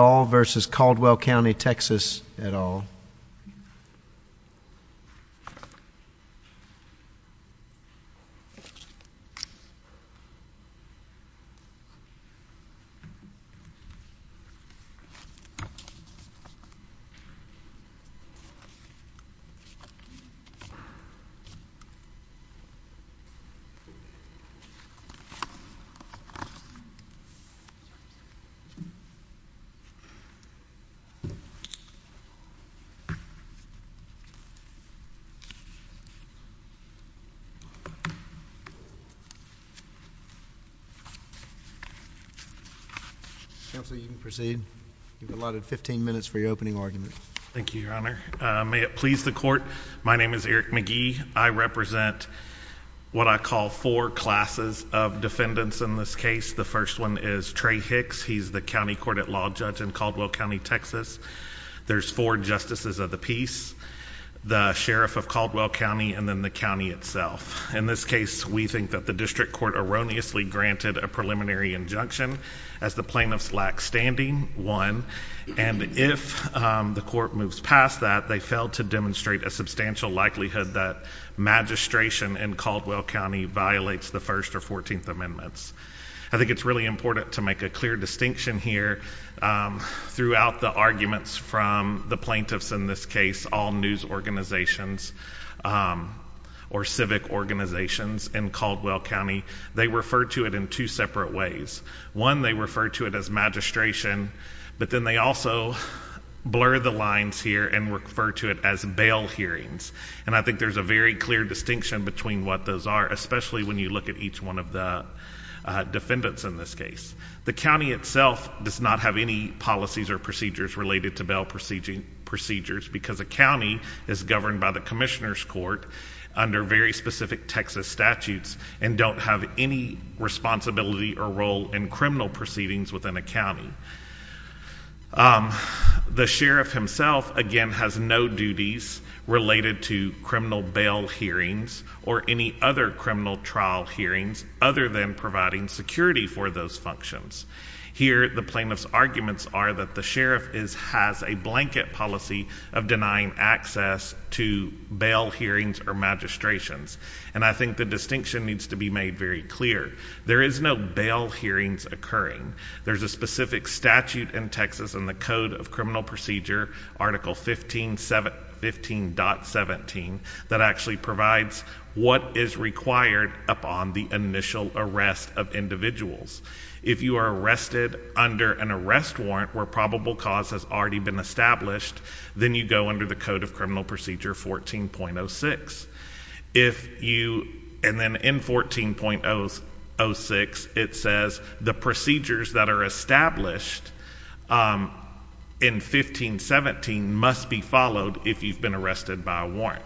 v. Caldwell County, TX, et al. Thank you, Your Honor. Counsel, you can proceed. You've allotted 15 minutes for your opening argument. Thank you, Your Honor. May it please the Court, my name is Eric McGee. I represent what I call four classes of defendants in this case. The first one is Trey Hicks. He's the County Court at Law judge in Caldwell County, Texas. There's four Justices of the Peace, the Sheriff of Caldwell County, and then the county itself. In this case, we think that the District Court erroneously granted a preliminary injunction. As the plaintiffs lack standing, one, and if the court moves past that, they fail to demonstrate a substantial likelihood that magistration in Caldwell County violates the First or Fourteenth Amendments. I think it's really important to make a clear distinction here throughout the arguments from the plaintiffs in this case, all news organizations or civic organizations in Caldwell County. They refer to it in two separate ways. One, they refer to it as magistration, but then they also blur the lines here and refer to it as bail hearings. And I think there's a very clear distinction between what those are, especially when you look at each one of the defendants in this case. The county itself does not have any policies or procedures related to bail procedures because a county is governed by the Commissioner's Court under very specific Texas statutes and don't have any responsibility or role in criminal proceedings within a county. The sheriff himself, again, has no duties related to criminal bail hearings or any other criminal trial hearings other than providing security for those functions. Here, the plaintiff's arguments are that the sheriff has a blanket policy of denying access to bail hearings or magistrations. And I think the distinction needs to be made very clear. There is no bail hearings occurring. There's a specific statute in Texas in the Code of Criminal Procedure, Article 15.17, that actually provides what is required upon the initial arrest of individuals. If you are arrested under an arrest warrant where probable cause has already been established, then you go under the Code of Criminal Procedure 14.06. And then in 14.06, it says the procedures that are established in 15.17 must be followed if you've been arrested by a warrant.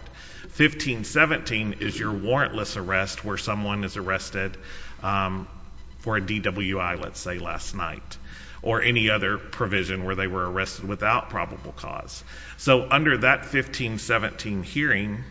15.17 is your warrantless arrest where someone is arrested for a DWI, let's say, last night, or any other provision where they were arrested without probable cause. So under that 15.17 hearing,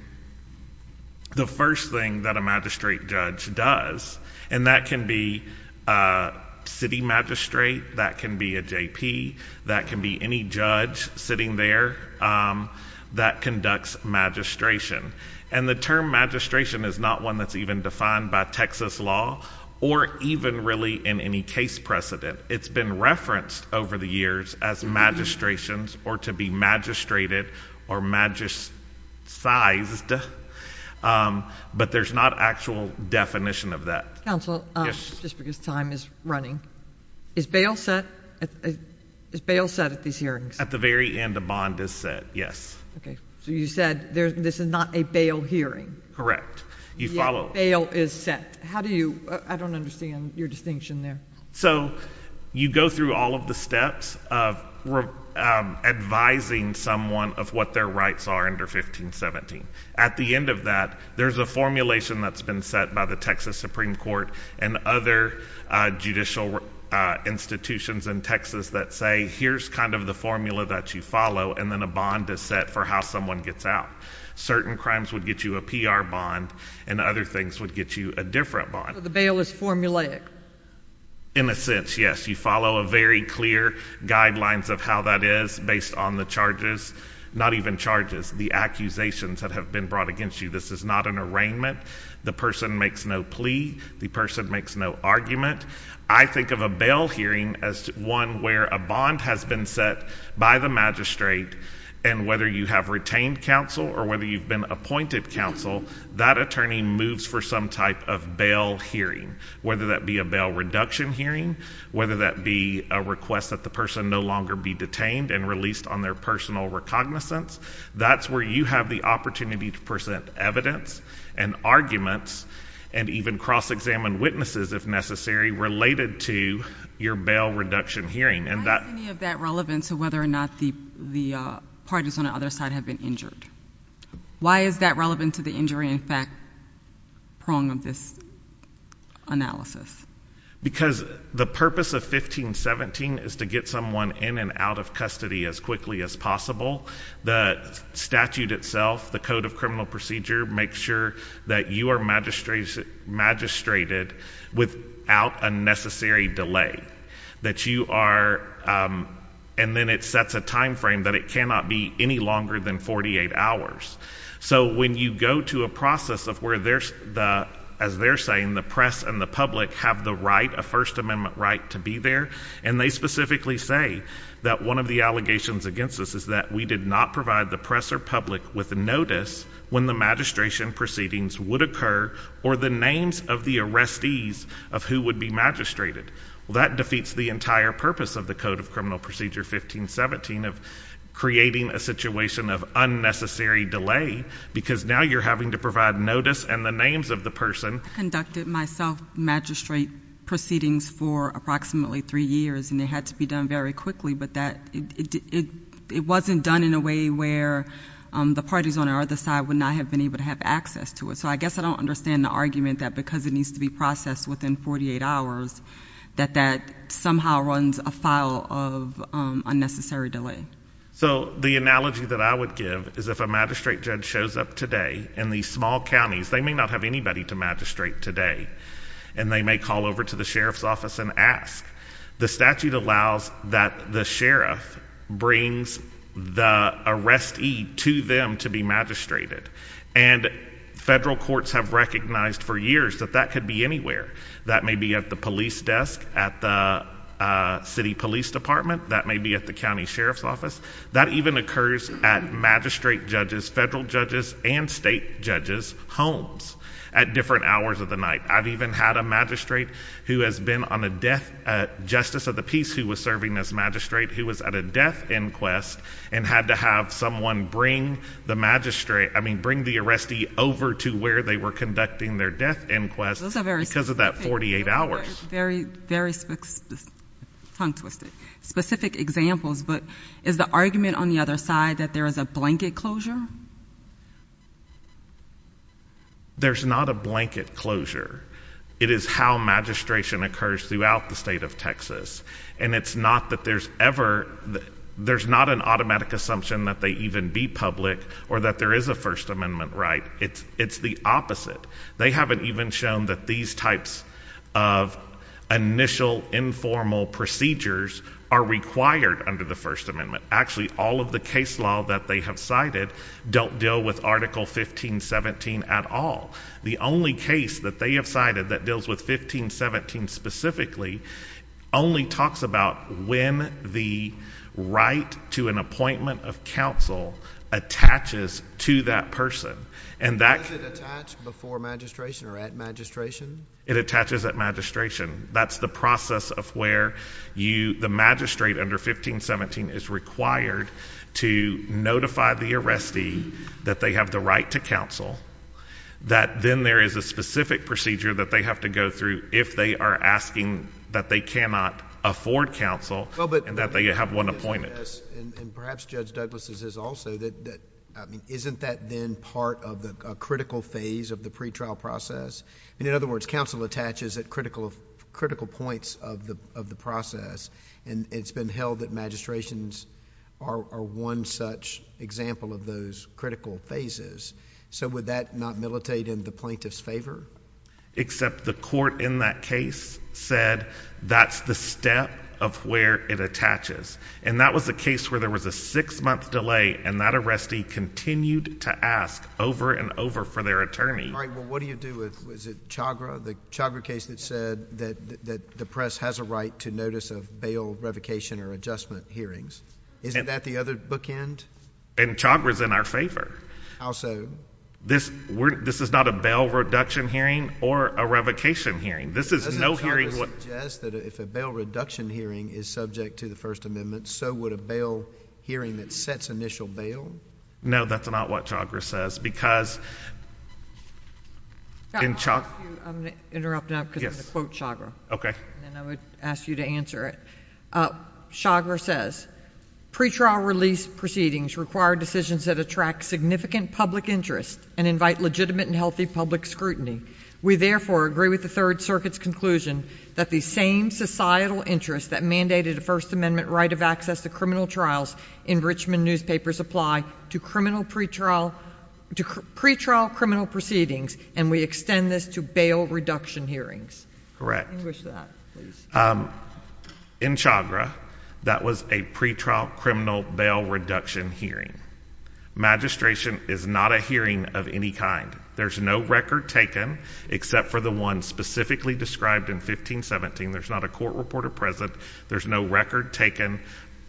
the first thing that a magistrate judge does, and that can be a city magistrate, that can be a JP, that can be any judge sitting there that conducts magistration. And the term magistration is not one that's even defined by Texas law or even really in any case precedent. It's been referenced over the years as magistrations or to be magistrated or magist-sized. But there's not actual definition of that. Counsel, just because time is running, is bail set at these hearings? At the very end, a bond is set, yes. Okay, so you said this is not a bail hearing. Correct. You follow? Yeah, bail is set. How do you—I don't understand your distinction there. So you go through all of the steps of advising someone of what their rights are under 15.17. At the end of that, there's a formulation that's been set by the Texas Supreme Court and other judicial institutions in Texas that say here's kind of the formula that you follow, and then a bond is set for how someone gets out. Certain crimes would get you a PR bond, and other things would get you a different bond. So the bail is formulaic? In a sense, yes. You follow a very clear guidelines of how that is based on the charges, not even charges, the accusations that have been brought against you. This is not an arraignment. The person makes no plea. The person makes no argument. I think of a bail hearing as one where a bond has been set by the magistrate, and whether you have retained counsel or whether you've been appointed counsel, that attorney moves for some type of bail hearing, whether that be a bail reduction hearing, whether that be a request that the person no longer be detained and released on their personal recognizance. That's where you have the opportunity to present evidence and arguments and even cross-examine witnesses if necessary related to your bail reduction hearing. Why is any of that relevant to whether or not the parties on the other side have been injured? Why is that relevant to the injury in fact prong of this analysis? Because the purpose of 1517 is to get someone in and out of custody as quickly as possible. The statute itself, the Code of Criminal Procedure, makes sure that you are magistrated without a necessary delay, and then it sets a time frame that it cannot be any longer than 48 hours. So when you go to a process of where, as they're saying, the press and the public have the right, a First Amendment right to be there, and they specifically say that one of the allegations against us is that we did not provide the press or public with notice when the magistration proceedings would occur or the names of the arrestees of who would be magistrated. Well, that defeats the entire purpose of the Code of Criminal Procedure 1517 of creating a situation of unnecessary delay because now you're having to provide notice and the names of the person. I conducted my self-magistrate proceedings for approximately three years, and it had to be done very quickly, but it wasn't done in a way where the parties on our other side would not have been able to have access to it. So I guess I don't understand the argument that because it needs to be processed within 48 hours, that that somehow runs afoul of unnecessary delay. So the analogy that I would give is if a magistrate judge shows up today in these small counties, they may not have anybody to magistrate today, and they may call over to the sheriff's office and ask. The statute allows that the sheriff brings the arrestee to them to be magistrated, and federal courts have recognized for years that that could be anywhere. That may be at the police desk at the city police department. That may be at the county sheriff's office. That even occurs at magistrate judges, federal judges, and state judges' homes at different hours of the night. I've even had a magistrate who has been on a death justice of the peace who was serving as magistrate who was at a death inquest and had to have someone bring the magistrate, I mean bring the arrestee over to where they were conducting their death inquest because of that 48 hours. Very, very tongue twisted. Specific examples, but is the argument on the other side that there is a blanket closure? There's not a blanket closure. It is how magistration occurs throughout the state of Texas, and it's not that there's ever, there's not an automatic assumption that they even be public or that there is a First Amendment right. It's the opposite. They haven't even shown that these types of initial informal procedures are required under the First Amendment. Actually, all of the case law that they have cited don't deal with Article 1517 at all. The only case that they have cited that deals with 1517 specifically only talks about when the right to an appointment of counsel attaches to that person. Does it attach before magistration or at magistration? It attaches at magistration. That's the process of where the magistrate under 1517 is required to notify the arrestee that they have the right to counsel, that then there is a specific procedure that they have to go through if they are asking that they cannot afford counsel and that they have one appointment. Yes, and perhaps Judge Douglas' is also that, I mean, isn't that then part of the critical phase of the pretrial process? In other words, counsel attaches at critical points of the process, and it's been held that magistrations are one such example of those critical phases. So would that not militate in the plaintiff's favor? Except the court in that case said that's the step of where it attaches, and that was the case where there was a six-month delay, and that arrestee continued to ask over and over for their attorney. All right, well, what do you do with Chagra, the Chagra case that said that the press has a right to notice of bail, revocation, or adjustment hearings? Isn't that the other bookend? And Chagra's in our favor. How so? This is not a bail reduction hearing or a revocation hearing. This is no hearing. Doesn't Chagra suggest that if a bail reduction hearing is subject to the First Amendment, so would a bail hearing that sets initial bail? No, that's not what Chagra says, because in Chagra. I'm going to interrupt now because I'm going to quote Chagra. Okay. And then I would ask you to answer it. Chagra says, Pre-trial release proceedings require decisions that attract significant public interest and invite legitimate and healthy public scrutiny. We therefore agree with the Third Circuit's conclusion that the same societal interests that mandated a First Amendment right of access to criminal trials in Richmond newspapers apply to pre-trial criminal proceedings, and we extend this to bail reduction hearings. Correct. In Chagra, that was a pre-trial criminal bail reduction hearing. Magistration is not a hearing of any kind. There's no record taken except for the one specifically described in 1517. There's not a court report of presence. There's no record taken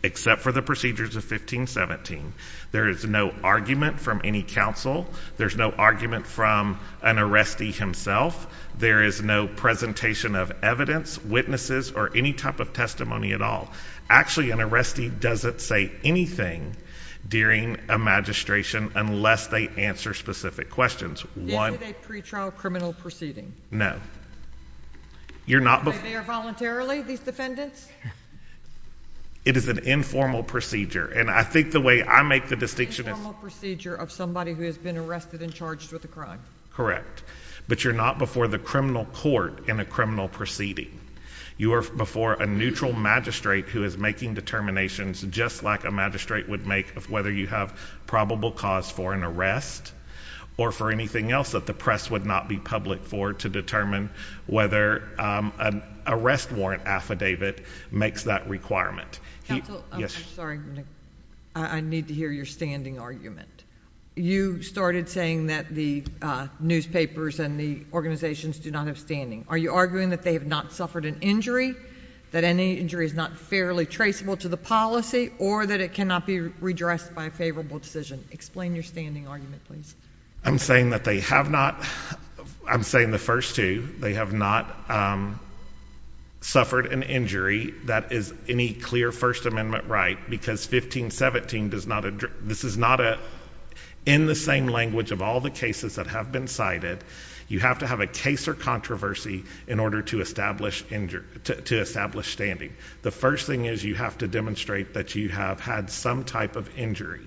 except for the procedures of 1517. There is no argument from any counsel. There's no argument from an arrestee himself. There is no presentation of evidence, witnesses, or any type of testimony at all. Actually, an arrestee doesn't say anything during a magistration unless they answer specific questions. Is it a pre-trial criminal proceeding? No. Are they there voluntarily, these defendants? It is an informal procedure, and I think the way I make the distinction is— It's an informal procedure of somebody who has been arrested and charged with a crime. Correct. But you're not before the criminal court in a criminal proceeding. You are before a neutral magistrate who is making determinations just like a magistrate would make of whether you have probable cause for an arrest or for anything else that the press would not be public for to determine whether an arrest warrant affidavit makes that requirement. Counsel, I'm sorry. I need to hear your standing argument. You started saying that the newspapers and the organizations do not have standing. Are you arguing that they have not suffered an injury, that any injury is not fairly traceable to the policy, or that it cannot be redressed by a favorable decision? Explain your standing argument, please. I'm saying that they have not—I'm saying the first two. They have not suffered an injury that is any clear First Amendment right because 1517 does not—this is not in the same language of all the cases that have been cited. You have to have a case or controversy in order to establish standing. The first thing is you have to demonstrate that you have had some type of injury.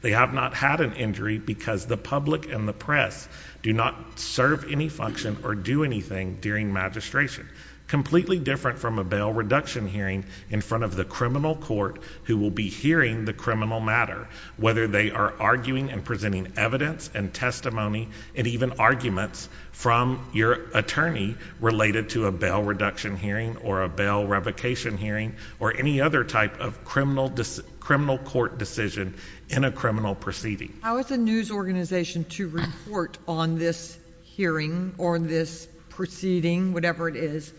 They have not had an injury because the public and the press do not serve any function or do anything during magistration, completely different from a bail reduction hearing in front of the criminal court who will be hearing the criminal matter, whether they are arguing and presenting evidence and testimony and even arguments from your attorney related to a bail reduction hearing or a bail revocation hearing or any other type of criminal court decision in a criminal proceeding. How is a news organization to report on this hearing or this proceeding, whatever it is,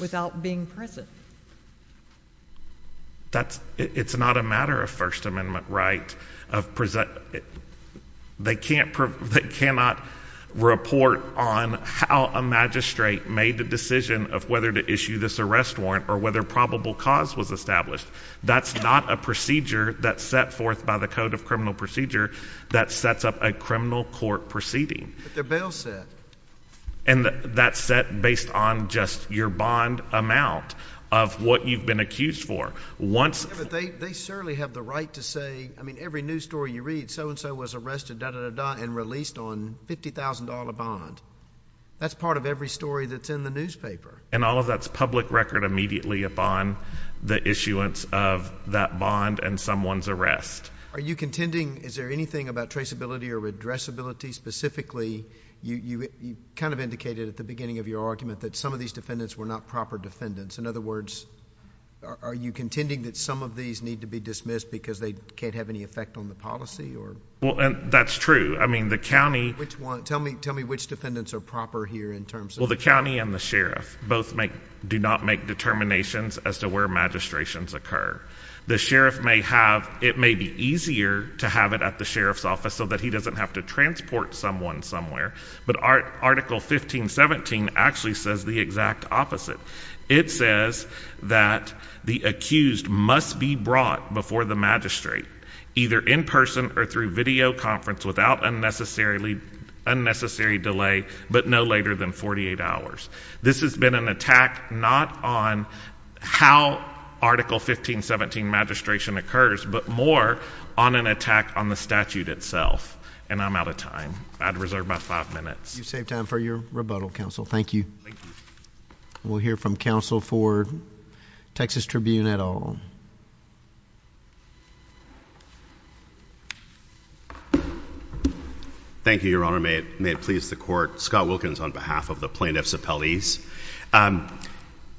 without being present? It's not a matter of First Amendment right. They cannot report on how a magistrate made the decision of whether to issue this arrest warrant or whether probable cause was established. That's not a procedure that's set forth by the Code of Criminal Procedure that sets up a criminal court proceeding. But they're bail set. And that's set based on just your bond amount of what you've been accused for. They certainly have the right to say, I mean, every news story you read, so-and-so was arrested, da-da-da-da, and released on $50,000 bond. That's part of every story that's in the newspaper. And all of that's public record immediately upon the issuance of that bond and someone's arrest. Are you contending, is there anything about traceability or addressability specifically? You kind of indicated at the beginning of your argument that some of these defendants were not proper defendants. In other words, are you contending that some of these need to be dismissed because they can't have any effect on the policy? Well, that's true. I mean, the county – Tell me which defendants are proper here in terms of – Well, the county and the sheriff both do not make determinations as to where magistrations occur. The sheriff may have – it may be easier to have it at the sheriff's office so that he doesn't have to transport someone somewhere. But Article 1517 actually says the exact opposite. It says that the accused must be brought before the magistrate either in person or through video conference without unnecessary delay but no later than 48 hours. This has been an attack not on how Article 1517 magistration occurs but more on an attack on the statute itself. And I'm out of time. I'd reserve my five minutes. You've saved time for your rebuttal, counsel. Thank you. Thank you. We'll hear from counsel for Texas Tribune et al. Thank you, Your Honor. May it please the Court. Scott Wilkins on behalf of the plaintiffs' appellees.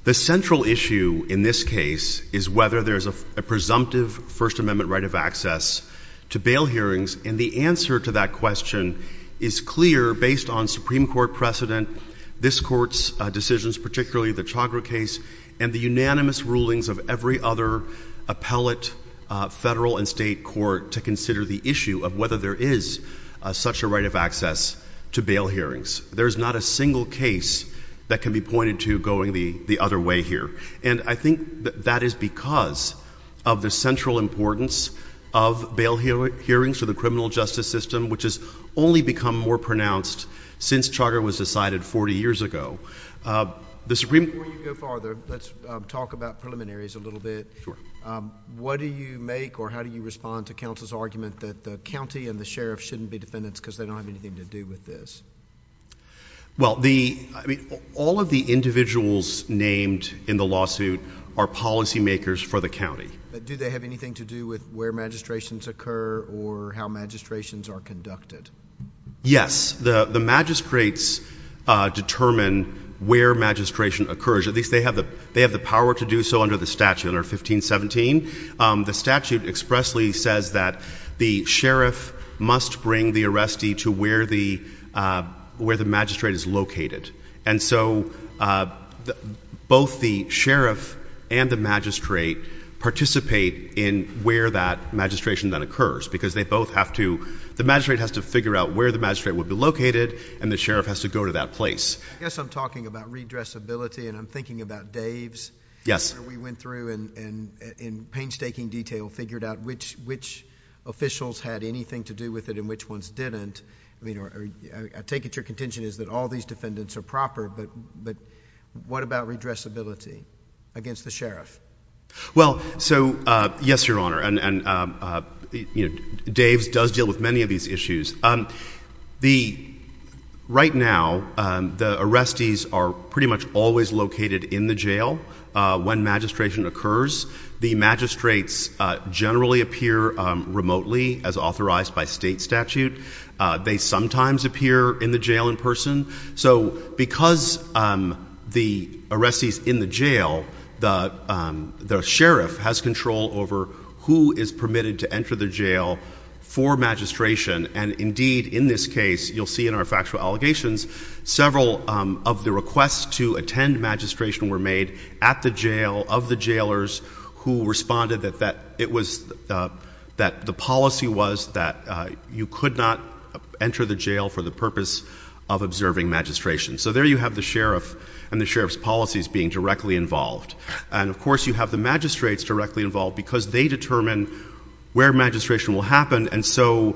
The central issue in this case is whether there is a presumptive First Amendment right of access to bail hearings. And the answer to that question is clear. Based on Supreme Court precedent, this Court's decisions, particularly the Chagra case, and the unanimous rulings of every other appellate federal and state court to consider the issue of whether there is such a right of access to bail hearings. There is not a single case that can be pointed to going the other way here. And I think that is because of the central importance of bail hearings to the criminal justice system which has only become more pronounced since Chagra was decided 40 years ago. Before you go farther, let's talk about preliminaries a little bit. Sure. What do you make or how do you respond to counsel's argument that the county and the sheriff shouldn't be defendants because they don't have anything to do with this? Well, all of the individuals named in the lawsuit are policymakers for the county. Do they have anything to do with where magistrations occur or how magistrations are conducted? Yes. The magistrates determine where magistration occurs. At least they have the power to do so under the statute under 1517. The statute expressly says that the sheriff must bring the arrestee to where the magistrate is located. And so both the sheriff and the magistrate participate in where that magistration then occurs because they both have to, the magistrate has to figure out where the magistrate would be located and the sheriff has to go to that place. I guess I'm talking about redressability and I'm thinking about Dave's. Yes. We went through and in painstaking detail figured out which officials had anything to do with it and which ones didn't. I take it your contention is that all these defendants are proper, but what about redressability against the sheriff? Well, so yes, Your Honor, and Dave's does deal with many of these issues. Right now, the arrestees are pretty much always located in the jail when magistration occurs. The magistrates generally appear remotely as authorized by state statute. They sometimes appear in the jail in person. So because the arrestee is in the jail, the sheriff has control over who is permitted to enter the jail for magistration. And indeed, in this case, you'll see in our factual allegations, several of the requests to attend magistration were made at the jail of the jailers who responded that the policy was that you could not enter the jail for the purpose of observing magistration. So there you have the sheriff and the sheriff's policies being directly involved. And, of course, you have the magistrates directly involved because they determine where magistration will happen. And so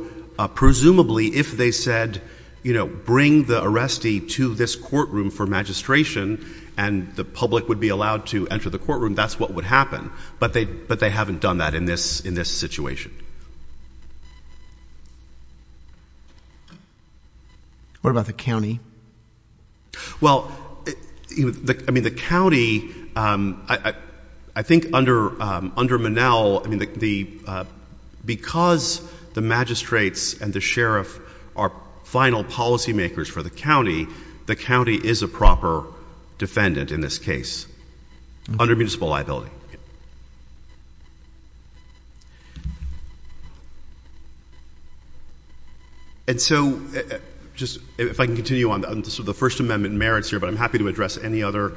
presumably, if they said, you know, bring the arrestee to this courtroom for magistration and the public would be allowed to enter the courtroom, that's what would happen. But they haven't done that in this situation. What about the county? Well, I mean, the county, I think under Monell, I mean, because the magistrates and the sheriff are final policymakers for the county, the county is a proper defendant in this case under municipal liability. And so just if I can continue on, the First Amendment merits here, but I'm happy to address any other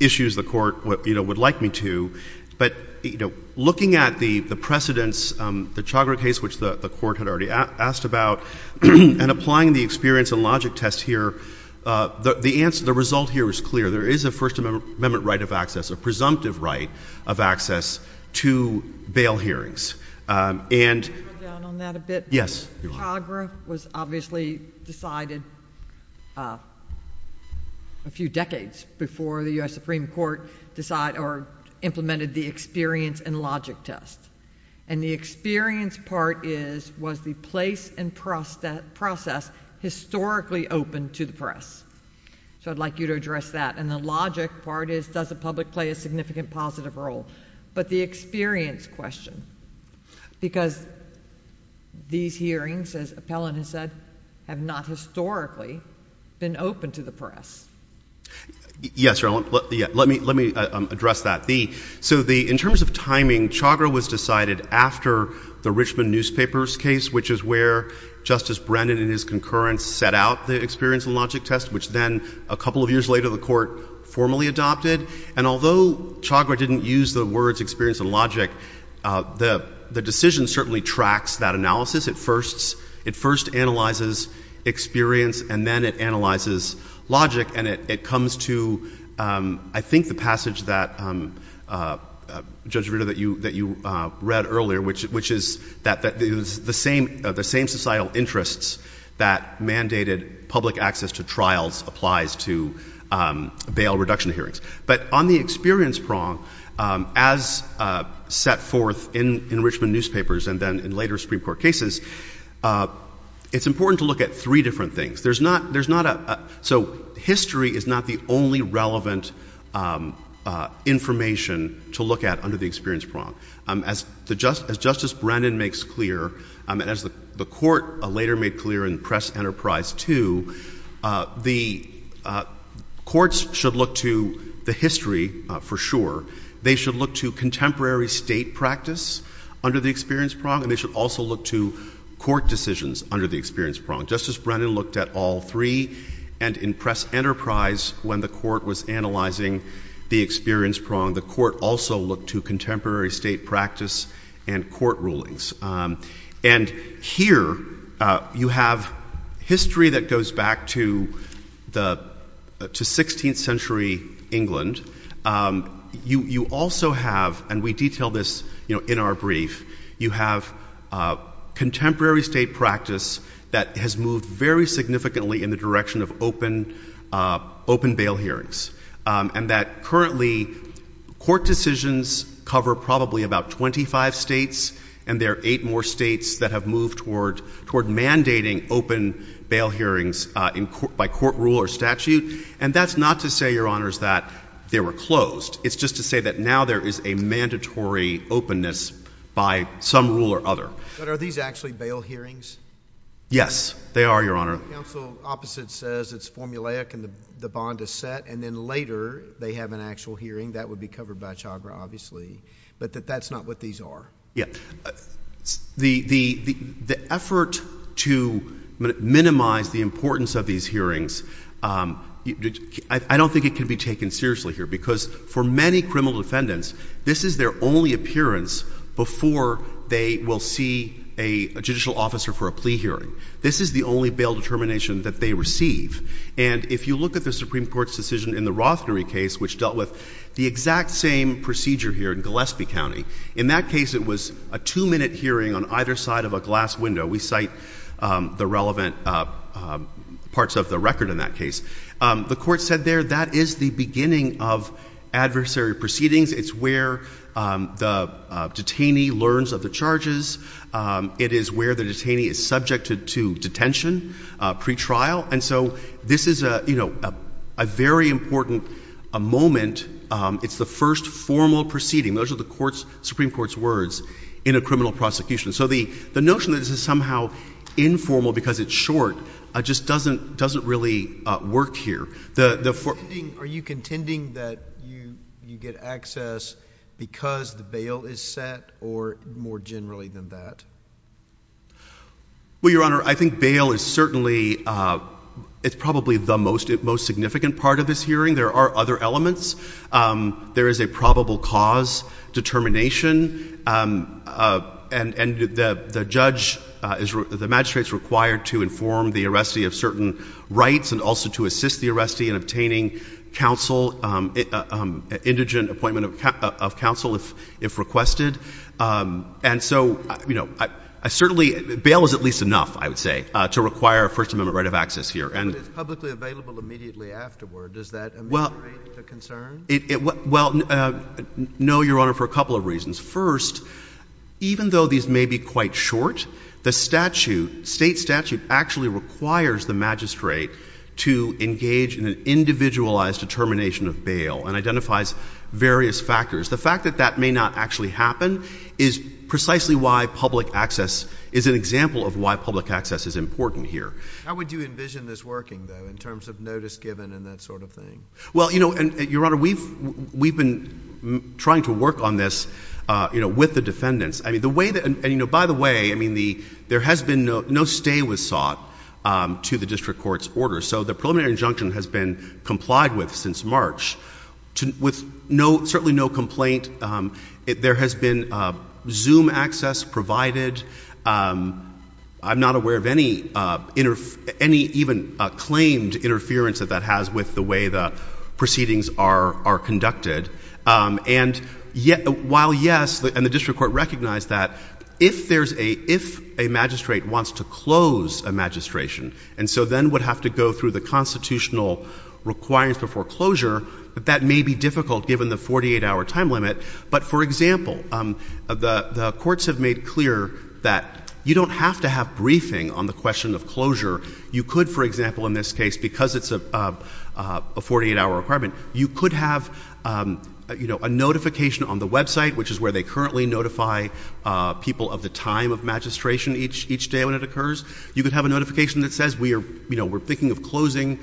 issues the court would like me to. But, you know, looking at the precedents, the Chagra case, which the court had already asked about, and applying the experience and logic test here, the result here is clear. There is a First Amendment right of access. A presumptive right of access to bail hearings. Can I go down on that a bit? Yes. Chagra was obviously decided a few decades before the U.S. Supreme Court decided or implemented the experience and logic test. And the experience part was the place and process historically open to the press. So I'd like you to address that. And the logic part is does the public play a significant positive role? But the experience question, because these hearings, as Appellant has said, have not historically been open to the press. Yes, Your Honor. Let me address that. So in terms of timing, Chagra was decided after the Richmond newspapers case, which is where Justice Brennan and his concurrence set out the experience and logic test, which then a couple of years later the court formally adopted. And although Chagra didn't use the words experience and logic, the decision certainly tracks that analysis. It first analyzes experience and then it analyzes logic. And it comes to, I think, the passage that, Judge Rito, that you read earlier, which is that the same societal interests that mandated public access to trials applies to bail reduction hearings. But on the experience prong, as set forth in Richmond newspapers and then in later Supreme Court cases, it's important to look at three different things. So history is not the only relevant information to look at under the experience prong. As Justice Brennan makes clear, and as the court later made clear in Press Enterprise 2, the courts should look to the history for sure. They should look to contemporary state practice under the experience prong, and they should also look to court decisions under the experience prong. Justice Brennan looked at all three. And in Press Enterprise, when the court was analyzing the experience prong, the court also looked to contemporary state practice and court rulings. And here you have history that goes back to 16th century England. You also have, and we detail this in our brief, you have contemporary state practice that has moved very significantly in the direction of open bail hearings and that currently court decisions cover probably about 25 states, and there are eight more states that have moved toward mandating open bail hearings by court rule or statute. And that's not to say, Your Honors, that they were closed. It's just to say that now there is a mandatory openness by some rule or other. But are these actually bail hearings? Yes, they are, Your Honor. The counsel opposite says it's formulaic and the bond is set, and then later they have an actual hearing that would be covered by Chagra obviously, but that that's not what these are. Yes. The effort to minimize the importance of these hearings, I don't think it can be taken seriously here because for many criminal defendants, this is their only appearance before they will see a judicial officer for a plea hearing. This is the only bail determination that they receive. And if you look at the Supreme Court's decision in the Rothnery case, which dealt with the exact same procedure here in Gillespie County, in that case it was a two-minute hearing on either side of a glass window. We cite the relevant parts of the record in that case. The court said there that is the beginning of adversary proceedings. It's where the detainee learns of the charges. It is where the detainee is subjected to detention pretrial. And so this is a very important moment. It's the first formal proceeding. Those are the Supreme Court's words in a criminal prosecution. So the notion that this is somehow informal because it's short just doesn't really work here. Are you contending that you get access because the bail is set or more generally than that? Well, Your Honor, I think bail is certainly, it's probably the most significant part of this hearing. There are other elements. There is a probable cause determination. And the judge, the magistrate is required to inform the arrestee of certain rights and also to assist the arrestee in obtaining counsel, indigent appointment of counsel if requested. And so bail is at least enough, I would say, to require a First Amendment right of access here. But it's publicly available immediately afterward. Does that ameliorate the concern? Well, no, Your Honor, for a couple of reasons. First, even though these may be quite short, the statute, state statute, actually requires the magistrate to engage in an individualized determination of bail and identifies various factors. The fact that that may not actually happen is precisely why public access, is an example of why public access is important here. How would you envision this working, though, in terms of notice given and that sort of thing? Well, Your Honor, we've been trying to work on this with the defendants. By the way, there has been no stay was sought to the district court's order. So the preliminary injunction has been complied with since March with certainly no complaint. There has been Zoom access provided. I'm not aware of any even claimed interference that that has with the way the proceedings are conducted. And while yes, and the district court recognized that, if a magistrate wants to close a magistration and so then would have to go through the constitutional requirements before closure, that that may be difficult given the 48-hour time limit. But, for example, the courts have made clear that you don't have to have briefing on the question of closure. You could, for example, in this case, because it's a 48-hour requirement, you could have a notification on the website, which is where they currently notify people of the time of magistration each day when it occurs. You could have a notification that says we're thinking of closing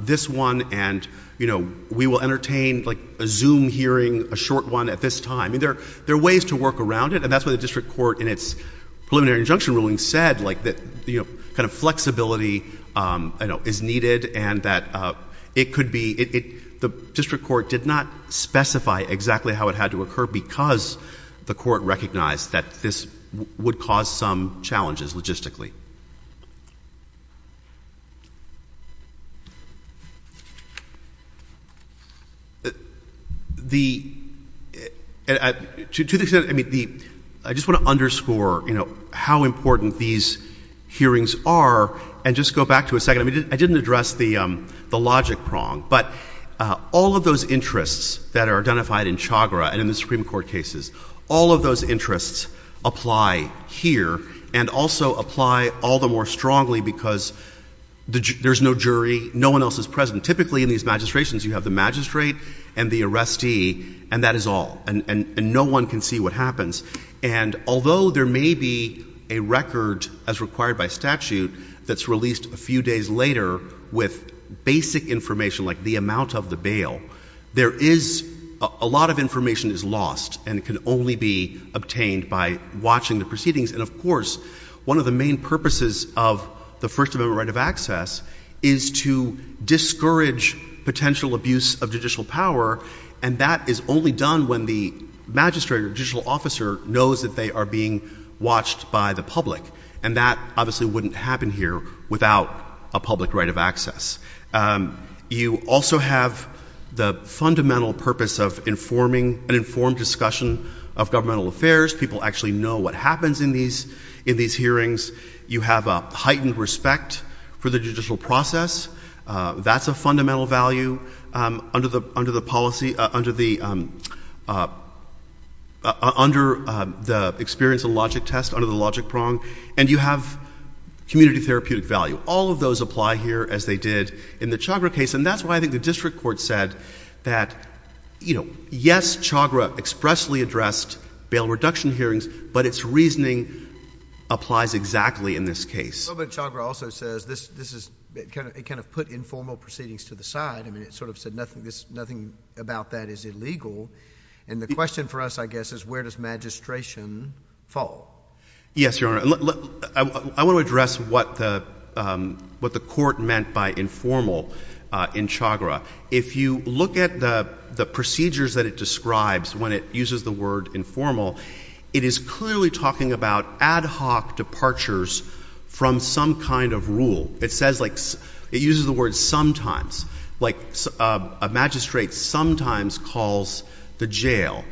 this one and we will entertain a Zoom hearing, a short one at this time. There are ways to work around it. And that's why the district court in its preliminary injunction ruling said that flexibility is needed and that the district court did not specify exactly how it had to occur because the court recognized that this would cause some challenges logistically. The — to the extent — I mean, the — I just want to underscore, you know, how important these hearings are and just go back to a second. I mean, I didn't address the logic prong, but all of those interests that are identified in Chagra and in the Supreme Court cases, all of those interests apply here and also apply all the more strongly because there's no jury, no one else is present. Typically, in these magistrations, you have the magistrate and the arrestee, and that is all. And no one can see what happens. And although there may be a record, as required by statute, that's released a few days later with basic information like the amount of the bail, there is — a lot of information is lost and can only be obtained by watching the proceedings. And, of course, one of the main purposes of the First Amendment right of access is to discourage potential abuse of judicial power, and that is only done when the magistrate or judicial officer knows that they are being watched by the public. And that obviously wouldn't happen here without a public right of access. You also have the fundamental purpose of informing — an informed discussion of governmental affairs. People actually know what happens in these hearings. You have a heightened respect for the judicial process. That's a fundamental value under the experience of logic test, under the logic prong. And you have community therapeutic value. All of those apply here as they did in the Chagra case, and that's why I think the district court said that, you know, yes, Chagra expressly addressed bail reduction hearings, but its reasoning applies exactly in this case. But Chagra also says this is — it kind of put informal proceedings to the side. I mean, it sort of said nothing about that is illegal. And the question for us, I guess, is where does magistration fall? Yes, Your Honor. I want to address what the court meant by informal in Chagra. If you look at the procedures that it describes when it uses the word informal, it is clearly talking about ad hoc departures from some kind of rule. It says like — it uses the word sometimes. Like a magistrate sometimes calls the jail.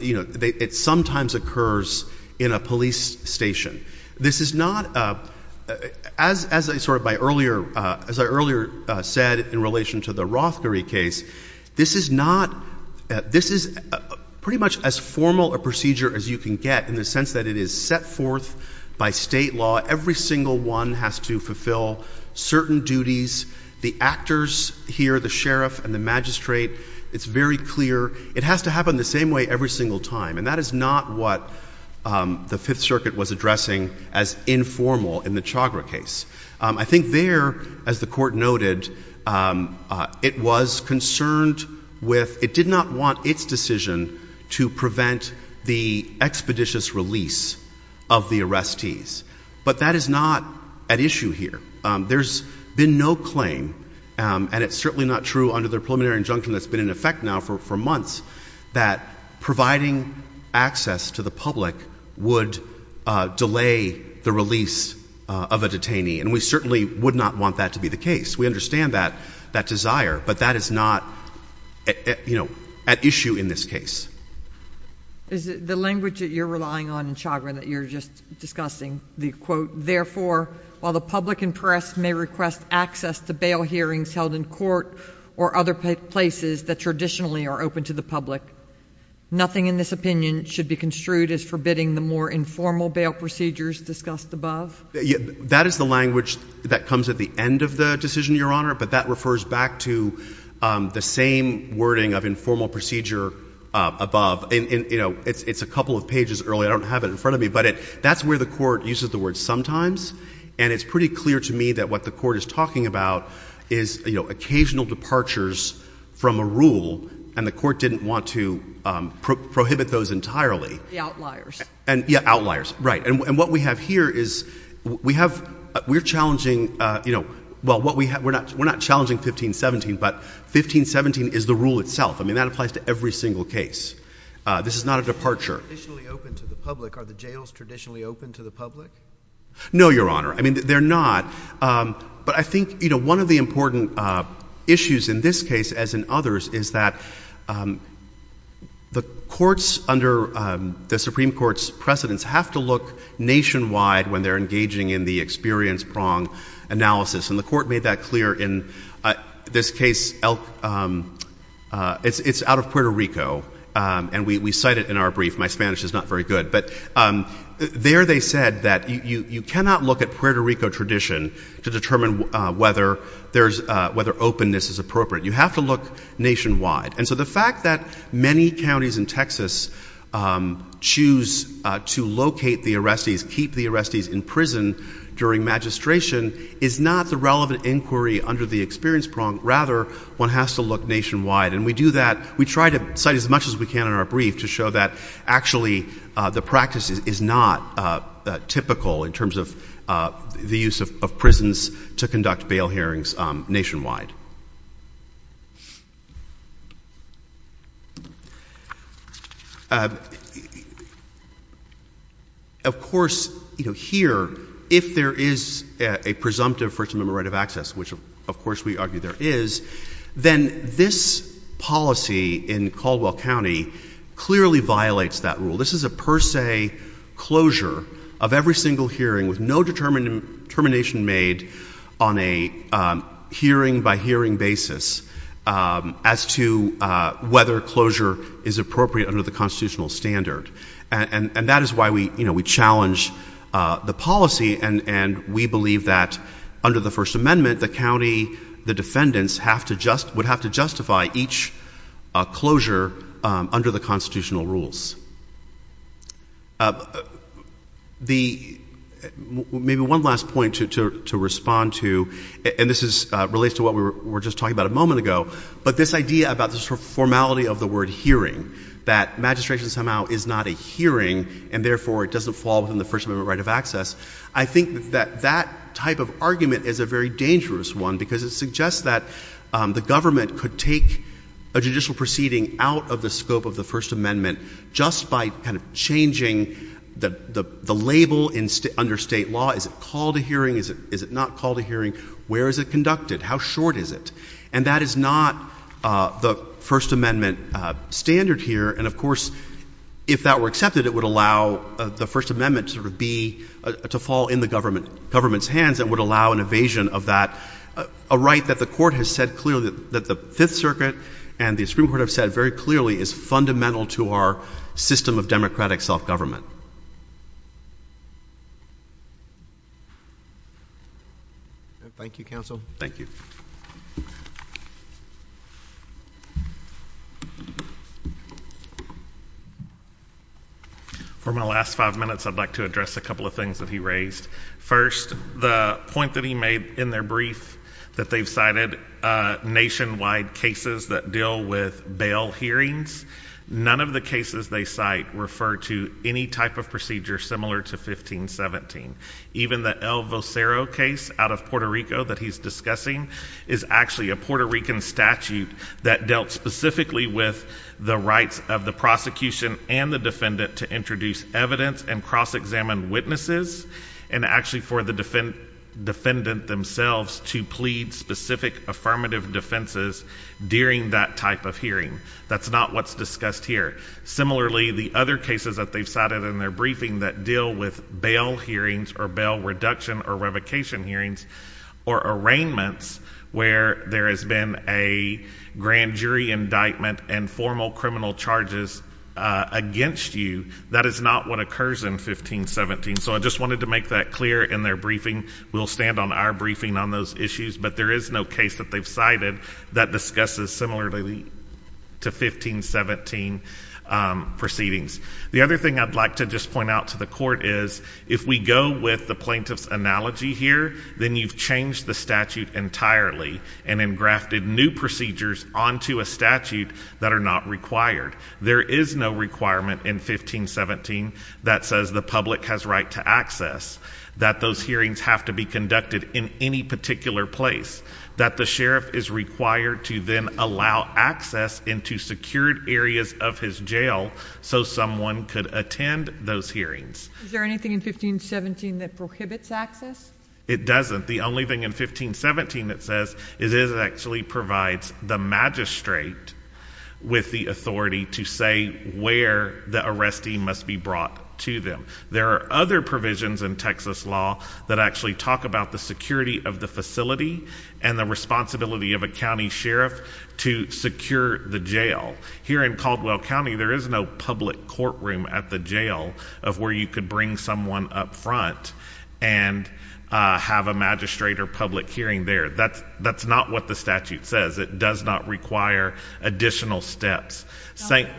You know, it sometimes occurs in a police station. This is not — as I sort of by earlier — as I earlier said in relation to the Rothkari case, this is not — this is pretty much as formal a procedure as you can get in the sense that it is set forth by state law. Every single one has to fulfill certain duties. The actors here, the sheriff and the magistrate, it's very clear. It has to happen the same way every single time. And that is not what the Fifth Circuit was addressing as informal in the Chagra case. I think there, as the court noted, it was concerned with — it did not want its decision to prevent the expeditious release of the arrestees. But that is not at issue here. There's been no claim, and it's certainly not true under the preliminary injunction that's been in effect now for months, that providing access to the public would delay the release of a detainee. And we certainly would not want that to be the case. We understand that desire, but that is not, you know, at issue in this case. Is it the language that you're relying on in Chagra that you're just discussing the quote, therefore, while the public and press may request access to bail hearings held in court or other places that traditionally are open to the public, nothing in this opinion should be construed as forbidding the more informal bail procedures discussed above? That is the language that comes at the end of the decision, Your Honor. But that refers back to the same wording of informal procedure above. And, you know, it's a couple of pages early. I don't have it in front of me. But that's where the court uses the word sometimes, and it's pretty clear to me that what the court is talking about is, you know, occasional departures from a rule, and the court didn't want to prohibit those entirely. The outliers. Yeah, outliers. Right. And what we have here is we're challenging, you know, well, we're not challenging 1517, but 1517 is the rule itself. I mean, that applies to every single case. This is not a departure. They're traditionally open to the public. Are the jails traditionally open to the public? No, Your Honor. I mean, they're not. But I think, you know, one of the important issues in this case, as in others, is that the courts under the Supreme Court's precedents have to look nationwide when they're engaging in the experience prong analysis. And the court made that clear in this case. It's out of Puerto Rico, and we cite it in our brief. My Spanish is not very good. But there they said that you cannot look at Puerto Rico tradition to determine whether openness is appropriate. You have to look nationwide. And so the fact that many counties in Texas choose to locate the arrestees, keep the arrestees in prison during magistration, is not the relevant inquiry under the experience prong. Rather, one has to look nationwide. And we do that. We try to cite as much as we can in our brief to show that actually the practice is not typical in terms of the use of prisons to conduct bail hearings nationwide. Of course, you know, here, if there is a presumptive first amendment right of access, which of course we argue there is, then this policy in Caldwell County clearly violates that rule. This is a per se closure of every single hearing with no determination made on a hearing by hearing basis. As to whether closure is appropriate under the constitutional standard. And that is why we challenge the policy, and we believe that under the first amendment, the county, the defendants, would have to justify each closure under the constitutional rules. Maybe one last point to respond to. And this relates to what we were just talking about a moment ago. But this idea about the formality of the word hearing, that magistration somehow is not a hearing, and therefore it doesn't fall within the first amendment right of access. I think that that type of argument is a very dangerous one because it suggests that the government could take a judicial proceeding out of the scope of the first amendment just by kind of changing the label under state law. Is it called a hearing? Is it not called a hearing? Where is it conducted? How short is it? And that is not the first amendment standard here. And of course, if that were accepted, it would allow the first amendment to sort of be, to fall in the government's hands and would allow an evasion of that, a right that the court has said clearly, that the Fifth Circuit and the Supreme Court have said very clearly, is fundamental to our system of democratic self-government. Thank you, counsel. Thank you. For my last five minutes, I'd like to address a couple of things that he raised. First, the point that he made in their brief that they've cited nationwide cases that deal with bail hearings. None of the cases they cite refer to any type of procedure similar to 1517. Even the El Vocero case out of Puerto Rico that he's discussing is actually a Puerto Rican statute that dealt specifically with the rights of the prosecution and the defendant to introduce evidence and cross-examine witnesses. And actually for the defendant themselves to plead specific affirmative defenses during that type of hearing. That's not what's discussed here. Similarly, the other cases that they've cited in their briefing that deal with bail hearings or bail reduction or revocation hearings or arraignments where there has been a grand jury indictment and formal criminal charges against you, that is not what occurs in 1517. So I just wanted to make that clear in their briefing. We'll stand on our briefing on those issues, but there is no case that they've cited that discusses similarly to 1517 proceedings. The other thing I'd like to just point out to the court is if we go with the plaintiff's analogy here, then you've changed the statute entirely and then grafted new procedures onto a statute that are not required. There is no requirement in 1517 that says the public has right to access, that those hearings have to be conducted in any particular place, that the sheriff is required to then allow access into secured areas of his jail so someone could attend those hearings. Is there anything in 1517 that prohibits access? It doesn't. The only thing in 1517 that says is it actually provides the magistrate with the authority to say where the arrestee must be brought to them. There are other provisions in Texas law that actually talk about the security of the facility and the responsibility of a county sheriff to secure the jail. Here in Caldwell County, there is no public courtroom at the jail of where you could bring someone up front and have a magistrate or public hearing there. That's not what the statute says. It does not require additional steps. Dr.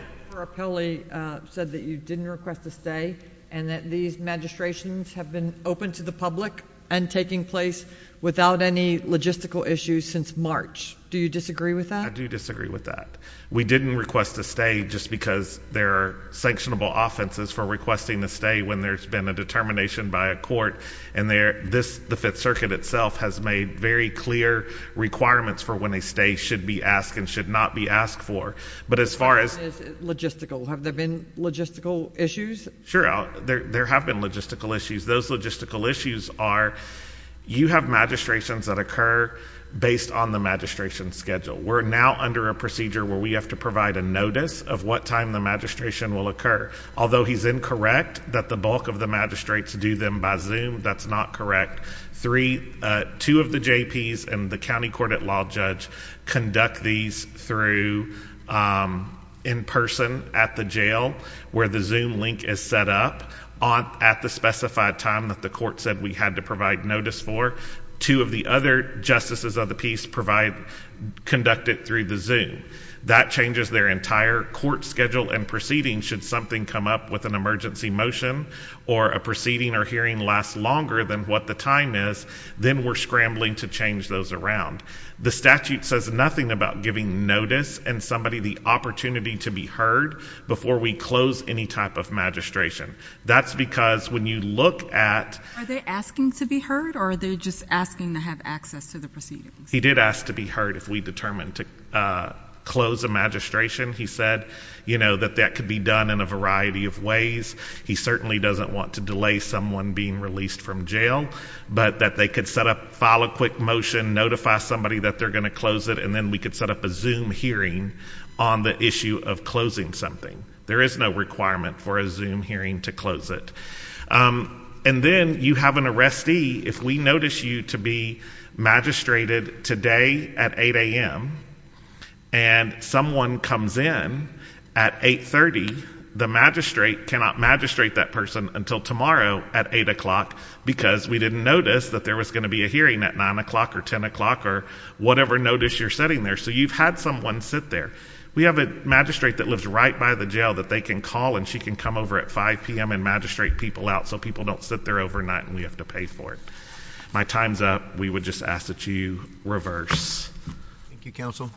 Perappelli said that you didn't request a stay and that these magistrations have been open to the public and taking place without any logistical issues since March. Do you disagree with that? I do disagree with that. We didn't request a stay just because there are sanctionable offenses for requesting a stay when there's been a determination by a court. The Fifth Circuit itself has made very clear requirements for when a stay should be asked and should not be asked for. But as far as... Logistical. Have there been logistical issues? Sure. There have been logistical issues. Those logistical issues are you have magistrations that occur based on the magistration schedule. We're now under a procedure where we have to provide a notice of what time the magistration will occur. Although he's incorrect that the bulk of the magistrates do them by Zoom, that's not correct. Two of the JPs and the county court at law judge conduct these through in person at the jail where the Zoom link is set up at the specified time that the court said we had to provide notice for. Two of the other justices of the peace conduct it through the Zoom. That changes their entire court schedule and proceeding should something come up with an emergency motion or a proceeding or hearing lasts longer than what the time is, then we're scrambling to change those around. The statute says nothing about giving notice and somebody the opportunity to be heard before we close any type of magistration. That's because when you look at... Are they asking to be heard or are they just asking to have access to the proceedings? He did ask to be heard if we determined to close a magistration. He said, you know, that that could be done in a variety of ways. He certainly doesn't want to delay someone being released from jail, but that they could set up, file a quick motion, notify somebody that they're going to close it, and then we could set up a Zoom hearing on the issue of closing something. There is no requirement for a Zoom hearing to close it. And then you have an arrestee. If we notice you to be magistrated today at 8 a.m. and someone comes in at 8.30, the magistrate cannot magistrate that person until tomorrow at 8 o'clock because we didn't notice that there was going to be a hearing at 9 o'clock or 10 o'clock or whatever notice you're setting there. So you've had someone sit there. We have a magistrate that lives right by the jail that they can call and she can come over at 5 p.m. and magistrate people out so people don't sit there overnight and we have to pay for it. My time's up. We would just ask that you reverse. Thank you, counsel.